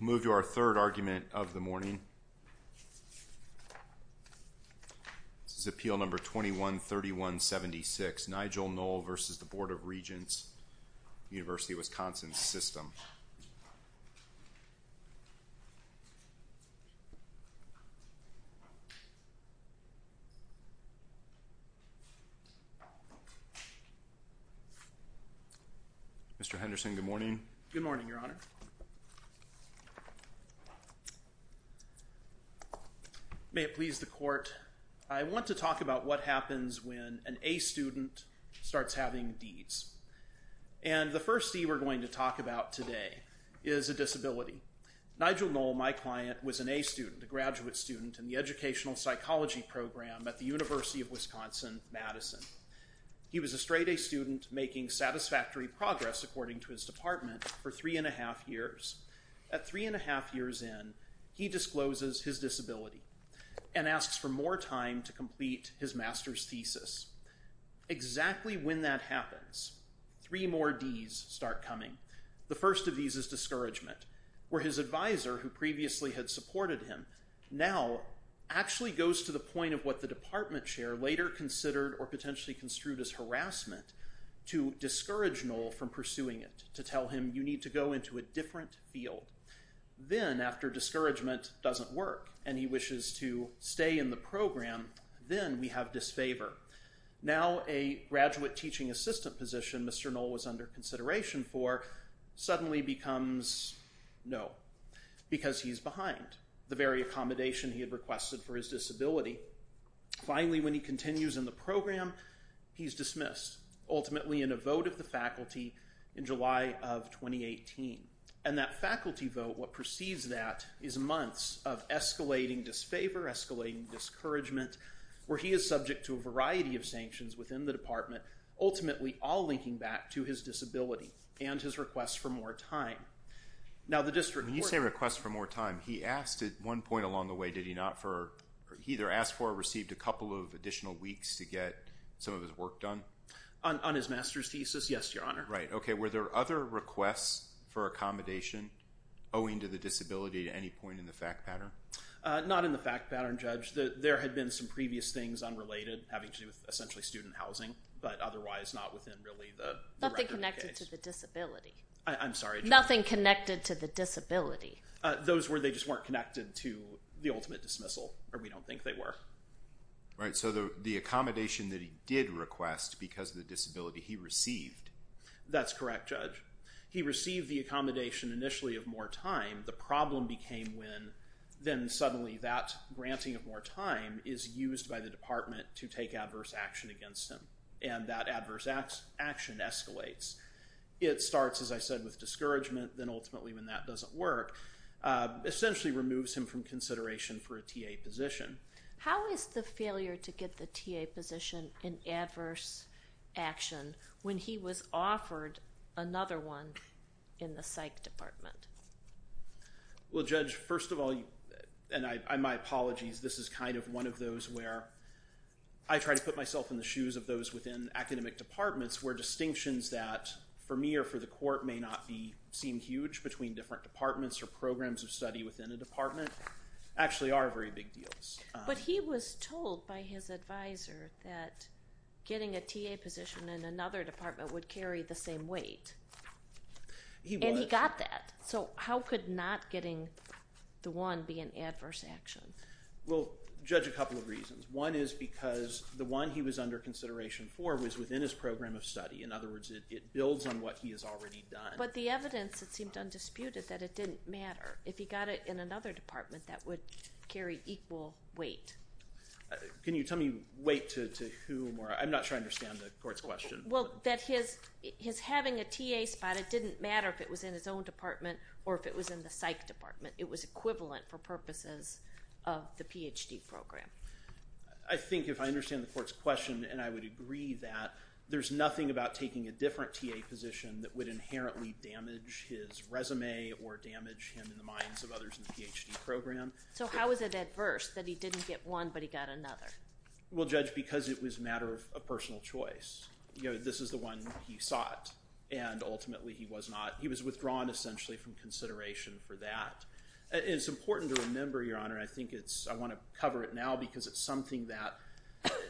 We'll move to our third argument of the morning. This is Appeal No. 21-3176, Nigel Noll v. Board of Regents, University of Wisconsin System. Mr. Henderson, good morning. Good morning, Your Honor. May it please the Court, I want to talk about what happens when an A student starts having D's. And the first D we're going to talk about today is a disability. Nigel Noll, my client, was an A student, a graduate student in the educational psychology program at the University of Wisconsin-Madison. He was a straight A student making satisfactory progress, according to his department, for three and a half years. At three and a half years in, he discloses his disability and asks for more time to complete his master's thesis. Exactly when that happens, three more D's start coming. The first of these is discouragement, where his advisor, who previously had supported him, now actually goes to the point of what the department chair later considered or potentially construed as harassment to discourage Noll from pursuing it, to tell him you need to go into a different field. Then, after discouragement doesn't work and he wishes to stay in the program, then we have disfavor. Now a graduate teaching assistant position Mr. Noll was under consideration for suddenly becomes no, because he's behind the very accommodation he had requested for his disability. Finally, when he continues in the program, he's dismissed, ultimately in a vote of the faculty in July of 2018. And that faculty vote, what precedes that, is months of escalating disfavor, escalating discouragement, where he is subject to a variety of sanctions within the department, ultimately all linking back to his disability and his request for more time. Now the district court. When you say request for more time, he asked at one point along the way, did he not for, he either asked for or received a couple of additional weeks to get some of his work done? On his master's thesis, yes, your honor. Right. Okay. Were there other requests for accommodation owing to the disability at any point in the fact pattern? Not in the fact pattern, Judge. There had been some previous things unrelated having to do with essentially student housing, but otherwise not within really the record of the case. Nothing connected to the disability. I'm sorry, Judge. Nothing connected to the disability. Those were, they just weren't connected to the ultimate dismissal, or we don't think they were. Right. So the accommodation that he did request because of the disability, he received. That's correct, Judge. He received the accommodation initially of more time. The problem became when then suddenly that granting of more time is used by the department to take adverse action against him, and that adverse action escalates. It starts, as I said, with discouragement, then ultimately when that doesn't work, essentially removes him from consideration for a TA position. How is the failure to get the TA position an adverse action when he was offered another one in the psych department? Well, Judge, first of all, and my apologies, this is kind of one of those where I try to put myself in the shoes of those within academic departments where distinctions that for me or for the court may not be, seem huge between different departments or programs of study within a department actually are very big deals. But he was told by his advisor that getting a TA position in another department would carry the same weight. He was. And he got that. So how could not getting the one be an adverse action? Well, Judge, a couple of reasons. One is because the one he was under consideration for was within his program of study. In other words, it builds on what he has already done. But the evidence, it seemed undisputed that it didn't matter. If he got it in another department, that would carry equal weight. Can you tell me weight to whom? I'm not sure I understand the court's question. Well, that his having a TA spot, it didn't matter if it was in his own department or if it was in the psych department. It was equivalent for purposes of the PhD program. I think if I understand the court's question and I would agree that there's nothing about taking a different TA position that would inherently damage his resume or damage him in the minds of others in the PhD program. So how is it adverse that he didn't get one but he got another? Well, Judge, because it was a matter of personal choice. You know, this is the one he sought. And ultimately, he was withdrawn essentially from consideration for that. It's important to remember, Your Honor, I think it's, I want to cover it now because it's something that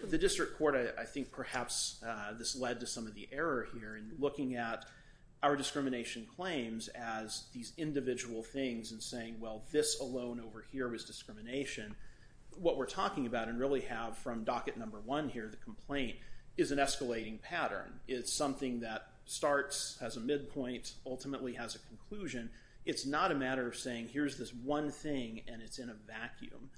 the district court, I think perhaps this led to some of the error here in looking at our discrimination claims as these individual things and saying, well, this alone over here is discrimination. What we're talking about and really have from docket number one here, the complaint is an escalating pattern. It's something that starts as a midpoint, ultimately has a conclusion. It's not a matter of saying here's this one thing and it's in a vacuum.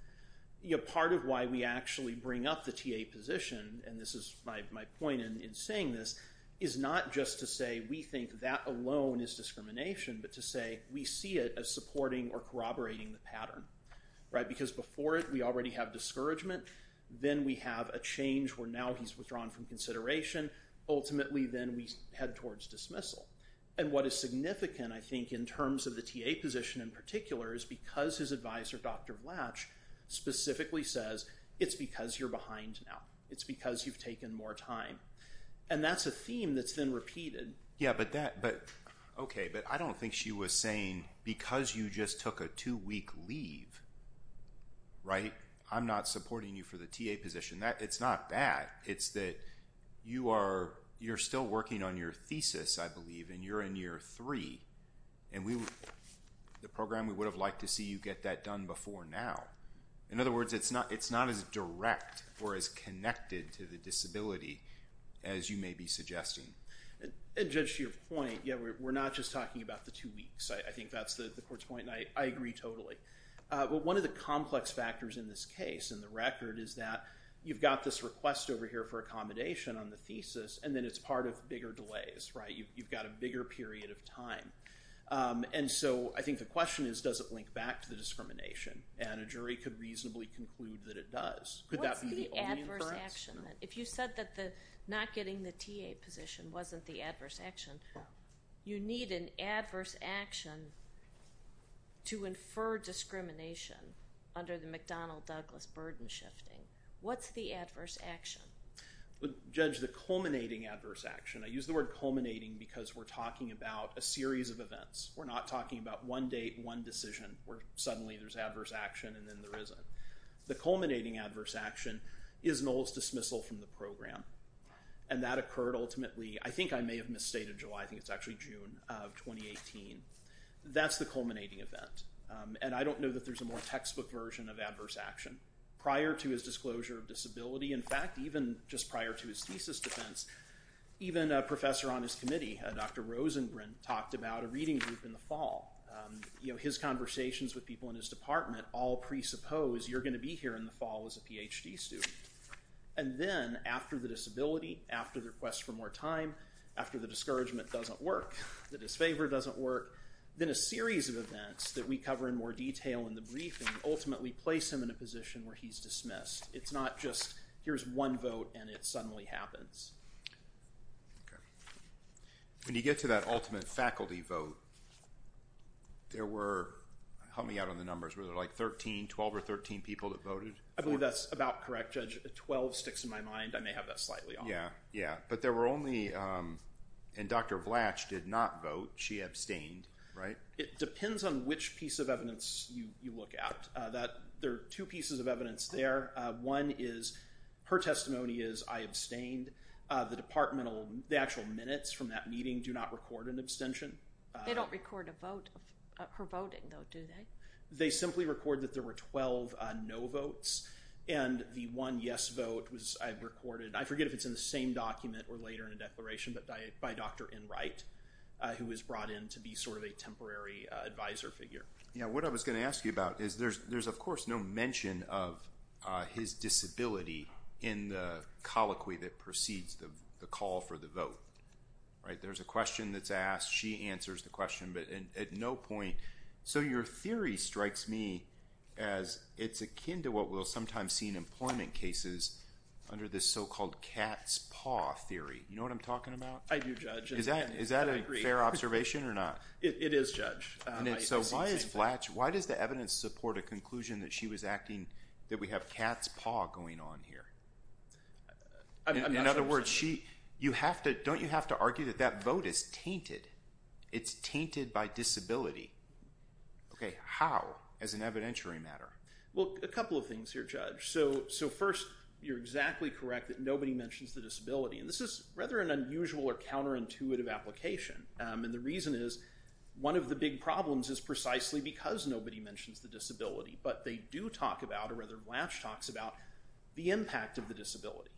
You know, part of why we actually bring up the TA position, and this is my point in saying this, is not just to say we think that alone is discrimination, but to say we see it as supporting or corroborating the pattern, right? Because before it, we already have discouragement. Then we have a change where now he's withdrawn from consideration. Ultimately, then we head towards dismissal. And what is significant, I think, in terms of the TA position in particular is because his advisor, Dr. Latch, specifically says it's because you're behind now. It's because you've taken more time. And that's a theme that's been repeated. Yeah, but that, but, okay, but I don't think she was saying because you just took a two-week leave, right, I'm not supporting you for the TA position. That, it's not that. It's that you are, you're still working on your thesis, I believe, and you're in year three. And we, the program, we would have liked to see you get that done before now. In other words, it's not as direct or as connected to the disability as you may be suggesting. And Judge, to your point, yeah, we're not just talking about the two weeks. I think that's the court's point, and I agree totally. But one of the complex factors in this case, in the record, is that you've got this request over here for accommodation on the thesis, and then it's part of bigger delays, right? You've got a bigger period of time. And so I think the question is, does it link back to the discrimination? And a jury could reasonably conclude that it does. Could that be the only inference? What's the adverse action, then? If you said that the not getting the TA position wasn't the adverse action, you need an adverse action to infer discrimination under the McDonnell-Douglas burden shifting. What's the adverse action? Well, Judge, the culminating adverse action, I use the word culminating because we're talking about a series of events. We're not talking about one date, one decision, where suddenly there's adverse action, and then there isn't. The culminating adverse action is Noel's dismissal from the program, and that occurred ultimately, I think I may have misstated July. I think it's actually June of 2018. That's the culminating event, and I don't know that there's a more textbook version of adverse action. Prior to his disclosure of disability, in fact, even just prior to his thesis defense, even a professor on his committee, Dr. Rosengren, talked about a reading group in the fall. You know, his conversations with people in his department all presuppose you're going to be here in the fall as a PhD student, and then after the disability, after the request for more time, after the discouragement doesn't work, the disfavor doesn't work, then a series of events that we cover in more detail in the briefing ultimately place him in a position where he's dismissed. It's not just here's one vote, and it suddenly happens. Okay. When you get to that ultimate faculty vote, there were, help me out on the numbers, were there like 13, 12 or 13 people that voted? I believe that's about correct, Judge. 12 sticks in my mind. I may have that slightly off. Yeah. Yeah. But there were only, and Dr. Blatch did not vote. She abstained, right? It depends on which piece of evidence you look at. There are two pieces of evidence there. One is her testimony is I abstained. The departmental, the actual minutes from that meeting do not record an abstention. They don't record a vote, her voting though, do they? They simply record that there were 12 no votes, and the one yes vote was, I've recorded, I forget if it's in the same document or later in a declaration, but by Dr. Enright, who was brought in to be sort of a temporary advisor figure. Yeah. What I was going to ask you about is there's of course no mention of his disability in the colloquy that precedes the call for the vote, right? There's a question that's asked. She answers the question, but at no point. So your theory strikes me as it's akin to what we'll sometimes see in employment cases under this so-called cat's paw theory. You know what I'm talking about? I do, Judge. Is that a fair observation or not? It is, Judge. So why is Blatch, why does the evidence support a conclusion that she was acting, that we have cat's paw going on here? In other words, you have to, don't you have to argue that that vote is tainted? It's tainted by disability. Okay. How, as an evidentiary matter? Well, a couple of things here, Judge. So first, you're exactly correct that nobody mentions the disability. And this is rather an unusual or counterintuitive application. And the reason is one of the big problems is precisely because nobody mentions the disability. But they do talk about, or rather Blatch talks about the impact of the disability.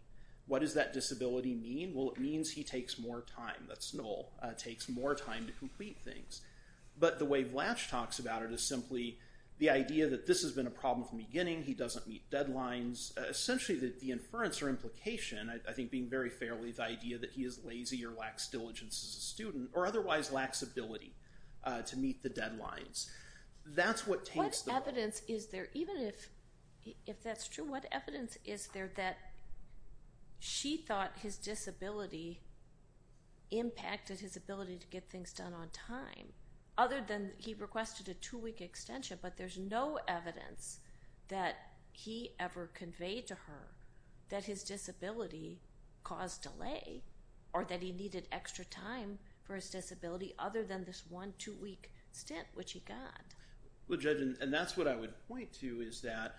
What does that disability mean? Well, it means he takes more time. That's null, takes more time to complete things. But the way Blatch talks about it is simply the idea that this has been a problem from the beginning. He doesn't meet deadlines. Essentially, the inference or implication, I think being very fairly the idea that he is lazy or lacks diligence as a student, or otherwise lacks ability to meet the deadlines. That's what taints the vote. What evidence is there, even if that's true, what evidence is there that she thought his disability impacted his ability to get things done on time, other than he requested a two-week extension. But there's no evidence that he ever conveyed to her that his disability caused delay, or that he needed extra time for his disability, other than this one two-week stint, which he got. Well, Judge, and that's what I would point to is that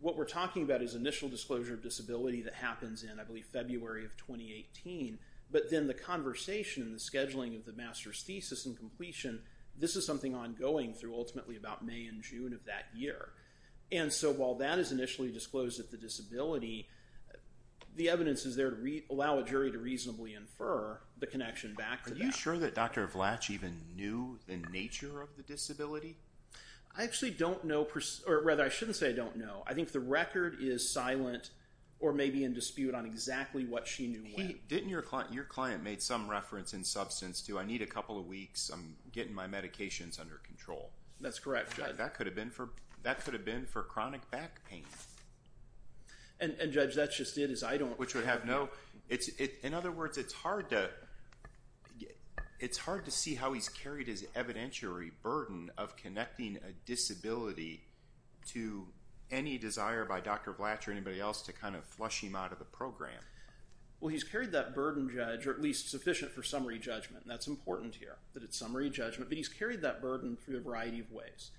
what we're talking about is initial disclosure of disability that happens in, I believe, February of 2018. But then the conversation, the scheduling of the master's thesis and completion, this is something ongoing through ultimately about May and June of that year. And so while that is initially disclosed that the disability, the evidence is there to allow a jury to reasonably infer the connection back. Are you sure that Dr. Blatch even knew the nature of the disability? I actually don't know, or rather I shouldn't say I don't know. I think the record is silent, or maybe in dispute on exactly what she knew when. Didn't your client, your client made some reference in substance to, I need a couple of weeks, I'm getting my medications under control. That's correct, Judge. That could have been for chronic back pain. And Judge, that's just it, is I don't. Which would have no, in other words, it's hard to, it's hard to see how he's carried his evidentiary burden of connecting a disability to any desire by Dr. Blatch or anybody else to kind of flush him out of the program. Well, he's carried that burden, Judge, or at least sufficient for summary judgment, and that's important here, that it's summary judgment. But he's carried that burden through a variety of ways.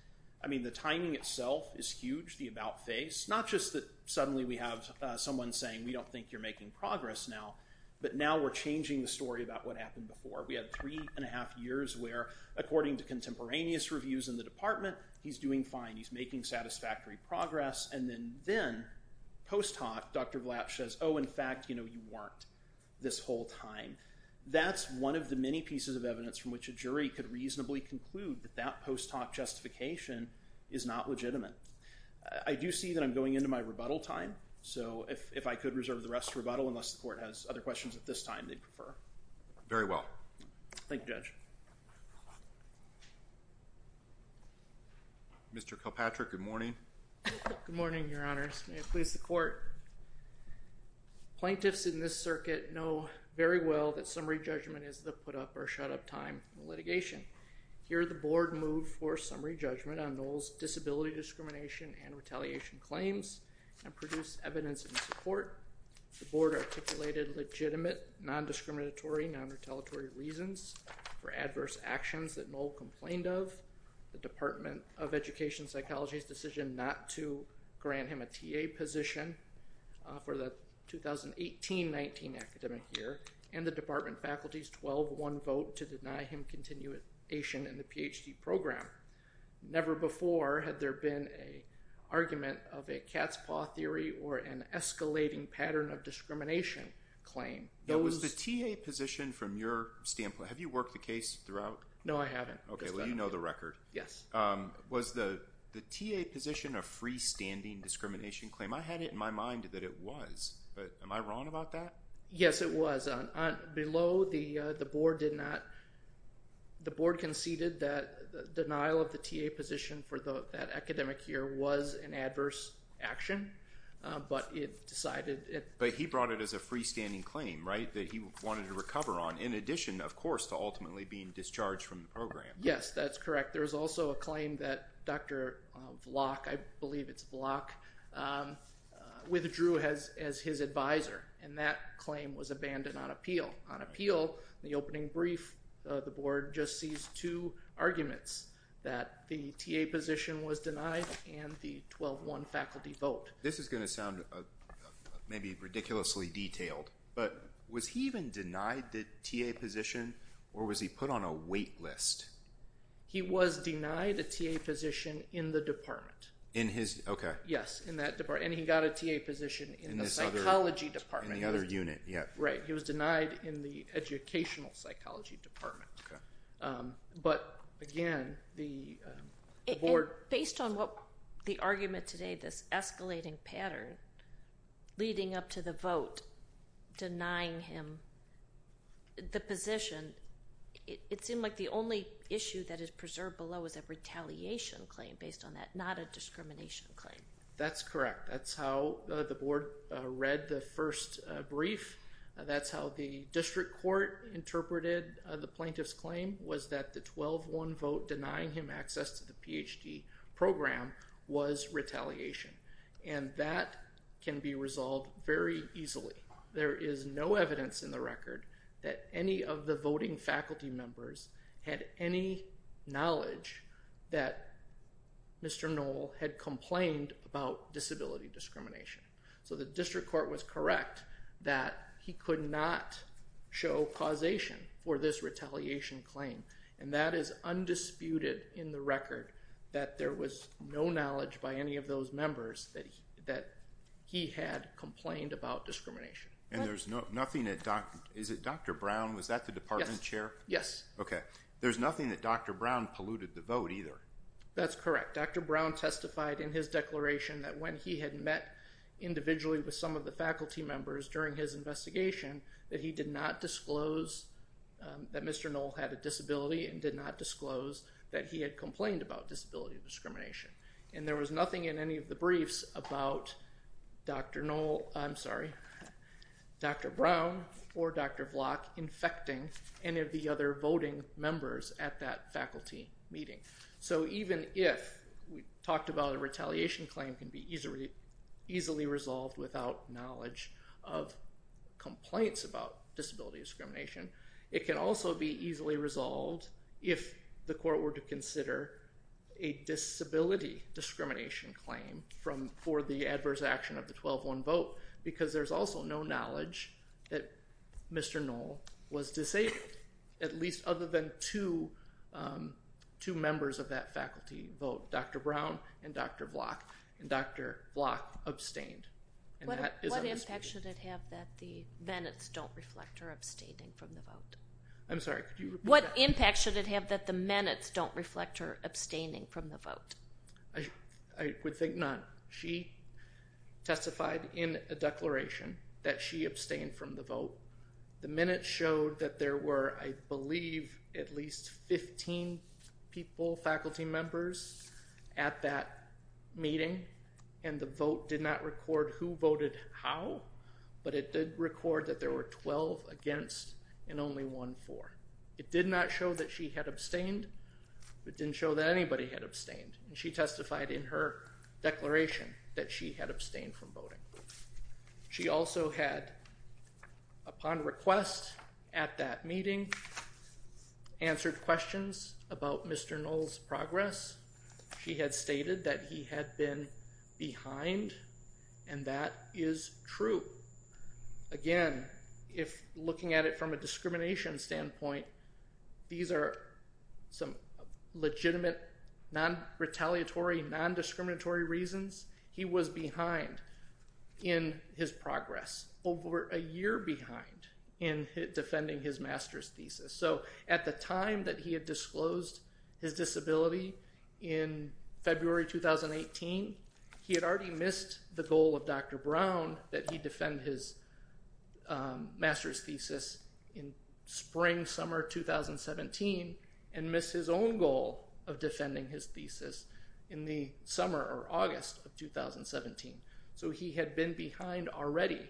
I mean, the timing itself is huge, the about face. Not just that suddenly we have someone saying, we don't think you're making progress now, but now we're changing the story about what happened before. We had three and a half years where, according to contemporaneous reviews in the department, he's doing fine. He's making satisfactory progress. And then post hoc, Dr. Blatch says, oh, in fact, you know, you weren't this whole time. That's one of the many pieces of evidence from which a jury could reasonably conclude that that post hoc justification is not legitimate. I do see that I'm going into my rebuttal time. So if I could reserve the rest of rebuttal, at this time, they'd prefer. Very well. Thank you, Judge. Mr. Kilpatrick, good morning. Good morning, Your Honor. May it please the court. Plaintiffs in this circuit know very well that summary judgment is the put up or shut up time in litigation. Here, the board moved for summary judgment on Knowles' disability discrimination and retaliation claims and produced evidence in support. The board articulated legitimate, non-discriminatory, non-retaliatory reasons for adverse actions that Knowles complained of. The Department of Education Psychology's decision not to grant him a TA position for the 2018-19 academic year. And the department faculty's 12-1 vote to deny him continuation in the PhD program. Never before had there been an argument of a cat's paw theory or an escalating pattern of discrimination claim. Now, was the TA position from your standpoint, have you worked the case throughout? No, I haven't. Okay, well, you know the record. Yes. Was the TA position a freestanding discrimination claim? I had it in my mind that it was, but am I wrong about that? Yes, it was. Below, the board did not, the board conceded that denial of the TA position for that academic year was an adverse action, but it decided it. But he brought it as a freestanding claim. Right? That he wanted to recover on, in addition, of course, to ultimately being discharged from the program. Yes, that's correct. There was also a claim that Dr. Block, I believe it's Block, withdrew as his advisor. And that claim was abandoned on appeal. On appeal, the opening brief, the board just seized two arguments, that the TA position was denied and the 12-1 faculty vote. This is going to sound maybe ridiculously detailed, but was he even denied the TA position or was he put on a wait list? He was denied a TA position in the department. In his, okay. Yes, in that department. And he got a TA position in the psychology department. In the other unit, yeah. Right. He was denied in the educational psychology department. Okay. But again, the board. And based on what the argument today, this escalating pattern leading up to the vote, denying him the position, it seemed like the only issue that is preserved below is a retaliation claim based on that, not a discrimination claim. That's correct. That's how the board read the first brief. That's how the district court interpreted the plaintiff's claim was that the 12-1 vote denying him access to the PhD program was retaliation. And that can be resolved very easily. There is no evidence in the record that any of the voting faculty members had any knowledge that Mr. Knoll had complained about disability discrimination. So the district court was correct that he could not show causation for this retaliation claim. And that is undisputed in the record that there was no knowledge by any of those members that he had complained about discrimination. And there's nothing that Dr. Brown, was that the department chair? Yes. Okay. There's nothing that Dr. Brown polluted the vote either. That's correct. Dr. Brown testified in his declaration that when he had met individually with some of the faculty members during his investigation that he did not disclose that Mr. Knoll had a disability and did not disclose that he had complained about disability discrimination. And there was nothing in any of the briefs about Dr. Knoll, I'm sorry, Dr. Brown or Dr. Vlock infecting any of the other voting members at that faculty meeting. So even if we talked about a retaliation claim can be easily resolved without knowledge of complaints about disability discrimination. It can also be easily resolved if the court were to consider a disability discrimination claim for the adverse action of the 12-1 vote because there's also no knowledge that Mr. Knoll was disabled, at least other than two members of that faculty vote, Dr. Brown and Dr. Vlock. And Dr. Vlock abstained. What impact should it have that the minutes don't reflect her abstaining from the vote? I'm sorry, could you repeat that? What impact should it have that the minutes don't reflect her abstaining from the vote? I would think not. She testified in a declaration that she abstained from the vote. The minutes showed that there were, I believe, at least 15 people, faculty members at that meeting and the vote did not record who voted how, but it did record that there were 12 against and only one for. It did not show that she had abstained. It didn't show that anybody had abstained. She testified in her declaration that she had abstained from voting. She also had, upon request at that meeting, answered questions about Mr. Knoll's progress. She had stated that he had been behind and that is true. Again, if looking at it from a discrimination standpoint, these are some legitimate, non-retaliatory, non-discriminatory reasons. He was behind in his progress, over a year behind in defending his master's thesis. So at the time that he had disclosed his disability in February 2018, he had already missed the goal of Dr. Brown that he defend his master's thesis in spring, summer 2017 and missed his own goal of defending his thesis in the summer or August of 2017. So he had been behind already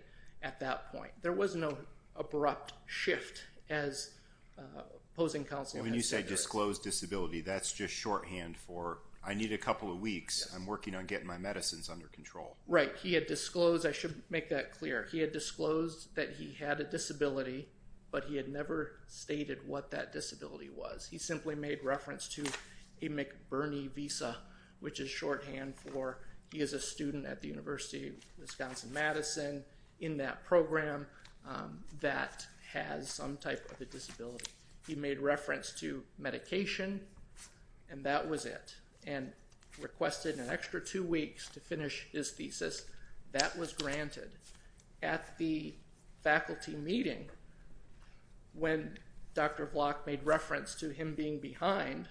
at that point. There was no abrupt shift as opposing counsel had said. And when you say disclosed disability, that's just shorthand for I need a couple of weeks. I'm working on getting my medicines under control. Right. He had disclosed. I should make that clear. He had disclosed that he had a disability but he had never stated what that disability was. He simply made reference to a McBurney Visa which is shorthand for he is a student at the University of Wisconsin-Madison in that program that has some type of a disability. He made reference to medication and that was it. And requested an extra two weeks to finish his thesis. That was granted. At the faculty meeting when Dr. Block made reference to him being behind,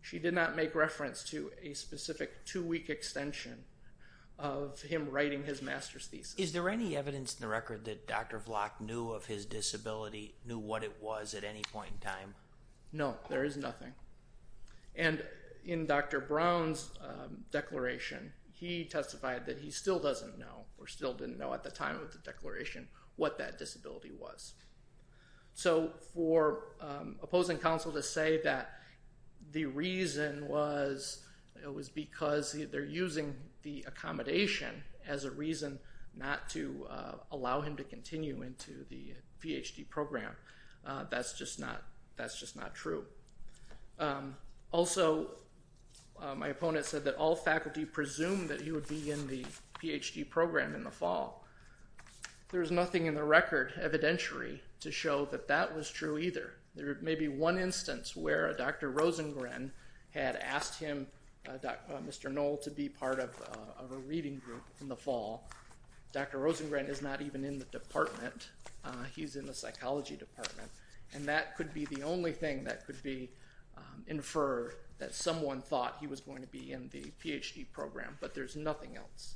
she did not make reference to a specific two-week extension of him writing his master's thesis. Is there any evidence in the record that Dr. Block knew of his disability, knew what it was at any point in time? No, there is nothing. And in Dr. Brown's declaration, he testified that he still doesn't know or still didn't know at the time of the declaration what that disability was. So for opposing counsel to say that the reason was it was because they're using the accommodation as a reason not to allow him to continue into the PhD program. That's just not true. Also, my opponent said that all faculty presumed that he would be in the PhD program in the fall. There's nothing in the record evidentiary to show that that was true either. There may be one instance where Dr. Rosengren had asked him, Mr. Knoll, to be part of a reading group in the fall. Dr. Rosengren is not even in the department. He's in the psychology department. And that could be the only thing that could be inferred that someone thought he was going to be in the PhD program. But there's nothing else.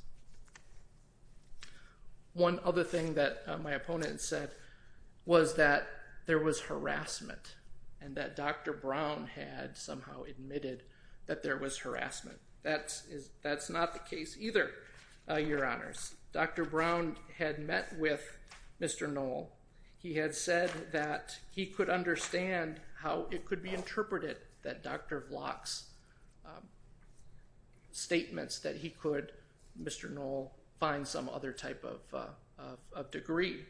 One other thing that my opponent said was that there was harassment. And that Dr. Brown had somehow admitted that there was harassment. That's not the case either, Your Honors. Dr. Brown had met with Mr. Knoll. He had said that he could understand how it could be interpreted that Dr. Block's statements that he could, Mr. Knoll, find some other type of degree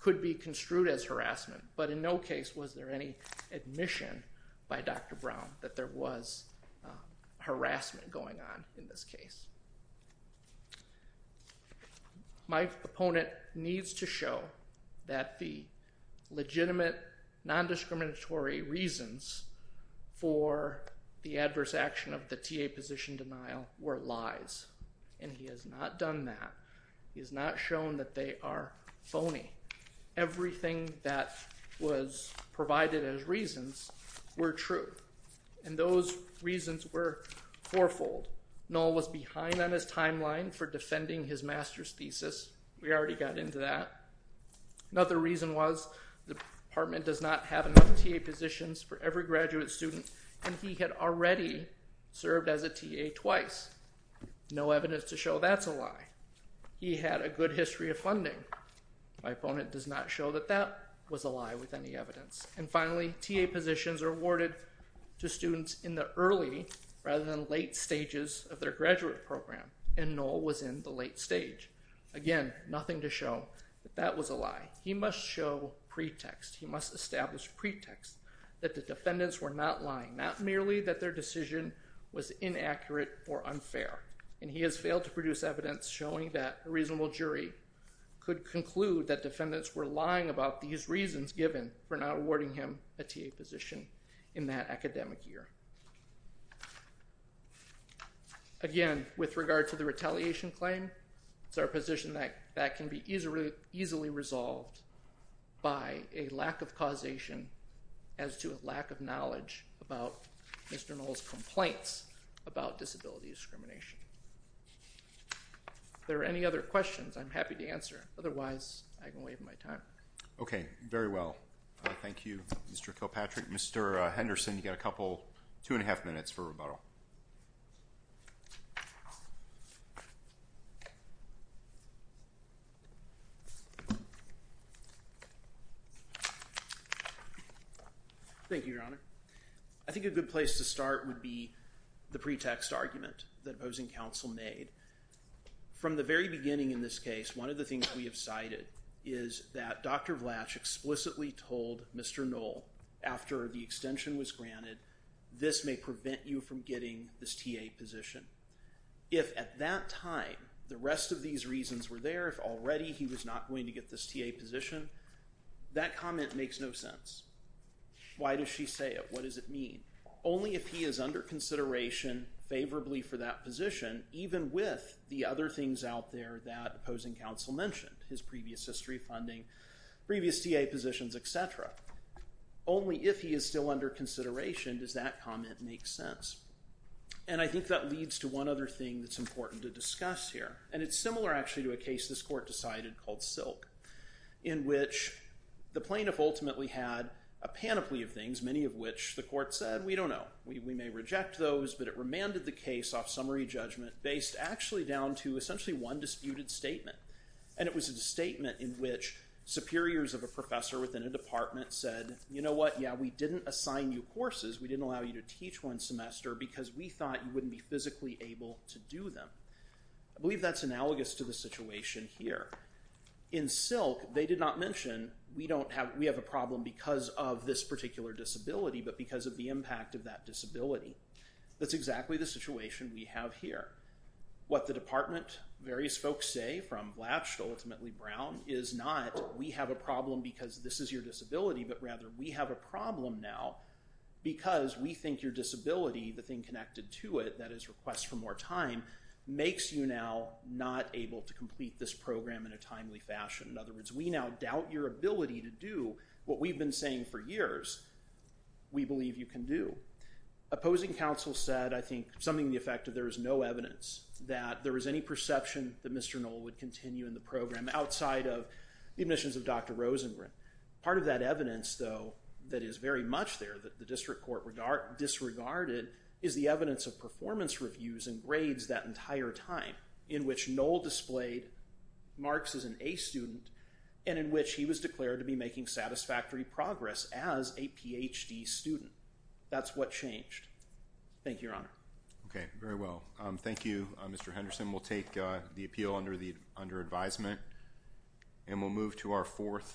could be construed as harassment. But in no case was there any admission by Dr. Brown that there was harassment going on in this case. My opponent needs to show that the legitimate, nondiscriminatory reasons for the adverse action of the TA position denial were lies. And he has not done that. He has not shown that they are phony. Everything that was provided as reasons were true. And those reasons were fourfold. Knoll was behind on his timeline for defending his master's thesis. We already got into that. Another reason was the department does not have enough TA positions for every graduate student. And he had already served as a TA twice. No evidence to show that's a lie. He had a good history of funding. My opponent does not show that that was a lie with any evidence. And finally, TA positions are awarded to students in the early rather than late stages of their graduate program. And Knoll was in the late stage. Again, nothing to show that that was a lie. He must show pretext. He must establish pretext that the defendants were not lying. Not merely that their decision was inaccurate or unfair. And he has failed to produce evidence showing that a reasonable jury could conclude that defendants were lying about these reasons given for not awarding him a TA position in that academic year. Again, with regard to the retaliation claim, it's our position that that can be easily resolved by a lack of causation as to a lack of knowledge about Mr. Knoll's complaints about disability discrimination. If there are any other questions, I'm happy to answer. Otherwise, I can waive my time. Okay. Very well. Thank you, Mr. Kilpatrick. Mr. Henderson, you've got a couple, two and a half minutes for rebuttal. Thank you, Your Honor. I think a good place to start would be the pretext argument that opposing counsel made. From the very beginning in this case, one of the things we have cited is that Dr. Vlach explicitly told Mr. Knoll after the extension was granted, this may prevent you from getting this TA position. If at that time the rest of these reasons were there, if already he was not going to get this TA position, that comment makes no sense. Why does she say it? What does it mean? Only if he is under consideration favorably for that position, even with the other things out there that opposing counsel mentioned, his previous history funding, previous TA positions, et cetera. Only if he is still under consideration does that comment make sense. And I think that leads to one other thing that's important to discuss here, and it's similar actually to a case this court decided called Silk, in which the plaintiff ultimately had a panoply of things, many of which the court said, we don't know. We may reject those, but it remanded the case off summary judgment based actually down to essentially one disputed statement. And it was a statement in which superiors of a professor within a department said, you know what, yeah, we didn't assign you courses. We didn't allow you to teach one semester because we thought you wouldn't be physically able to do them. I believe that's analogous to the situation here. In Silk, they did not mention we don't have, we have a problem because of this particular disability, but because of the impact of that disability. That's exactly the situation we have here. What the department, various folks say from Blatch, ultimately Brown, is not we have a problem because this is your disability, but rather we have a problem now because we think your disability, the thing connected to it, that is request for more time, makes you now not able to complete this program in a timely fashion. In other words, we now doubt your ability to do what we've been saying for years, we believe you can do. Opposing counsel said, I think, something to the effect of there is no evidence that there is any perception that Mr. Knoll would continue in the program outside of the admissions of Dr. Rosengren. Part of that evidence, though, that is very much there, that the district court disregarded, is the evidence of performance reviews and grades that entire time in which Knoll displayed Marx as an A student and in which he was declared to be making satisfactory progress as a PhD student. That's what changed. Thank you, Your Honor. Okay. Very well. Thank you, Mr. Henderson. We'll take the appeal under the, under advisement. And we'll move to our fourth.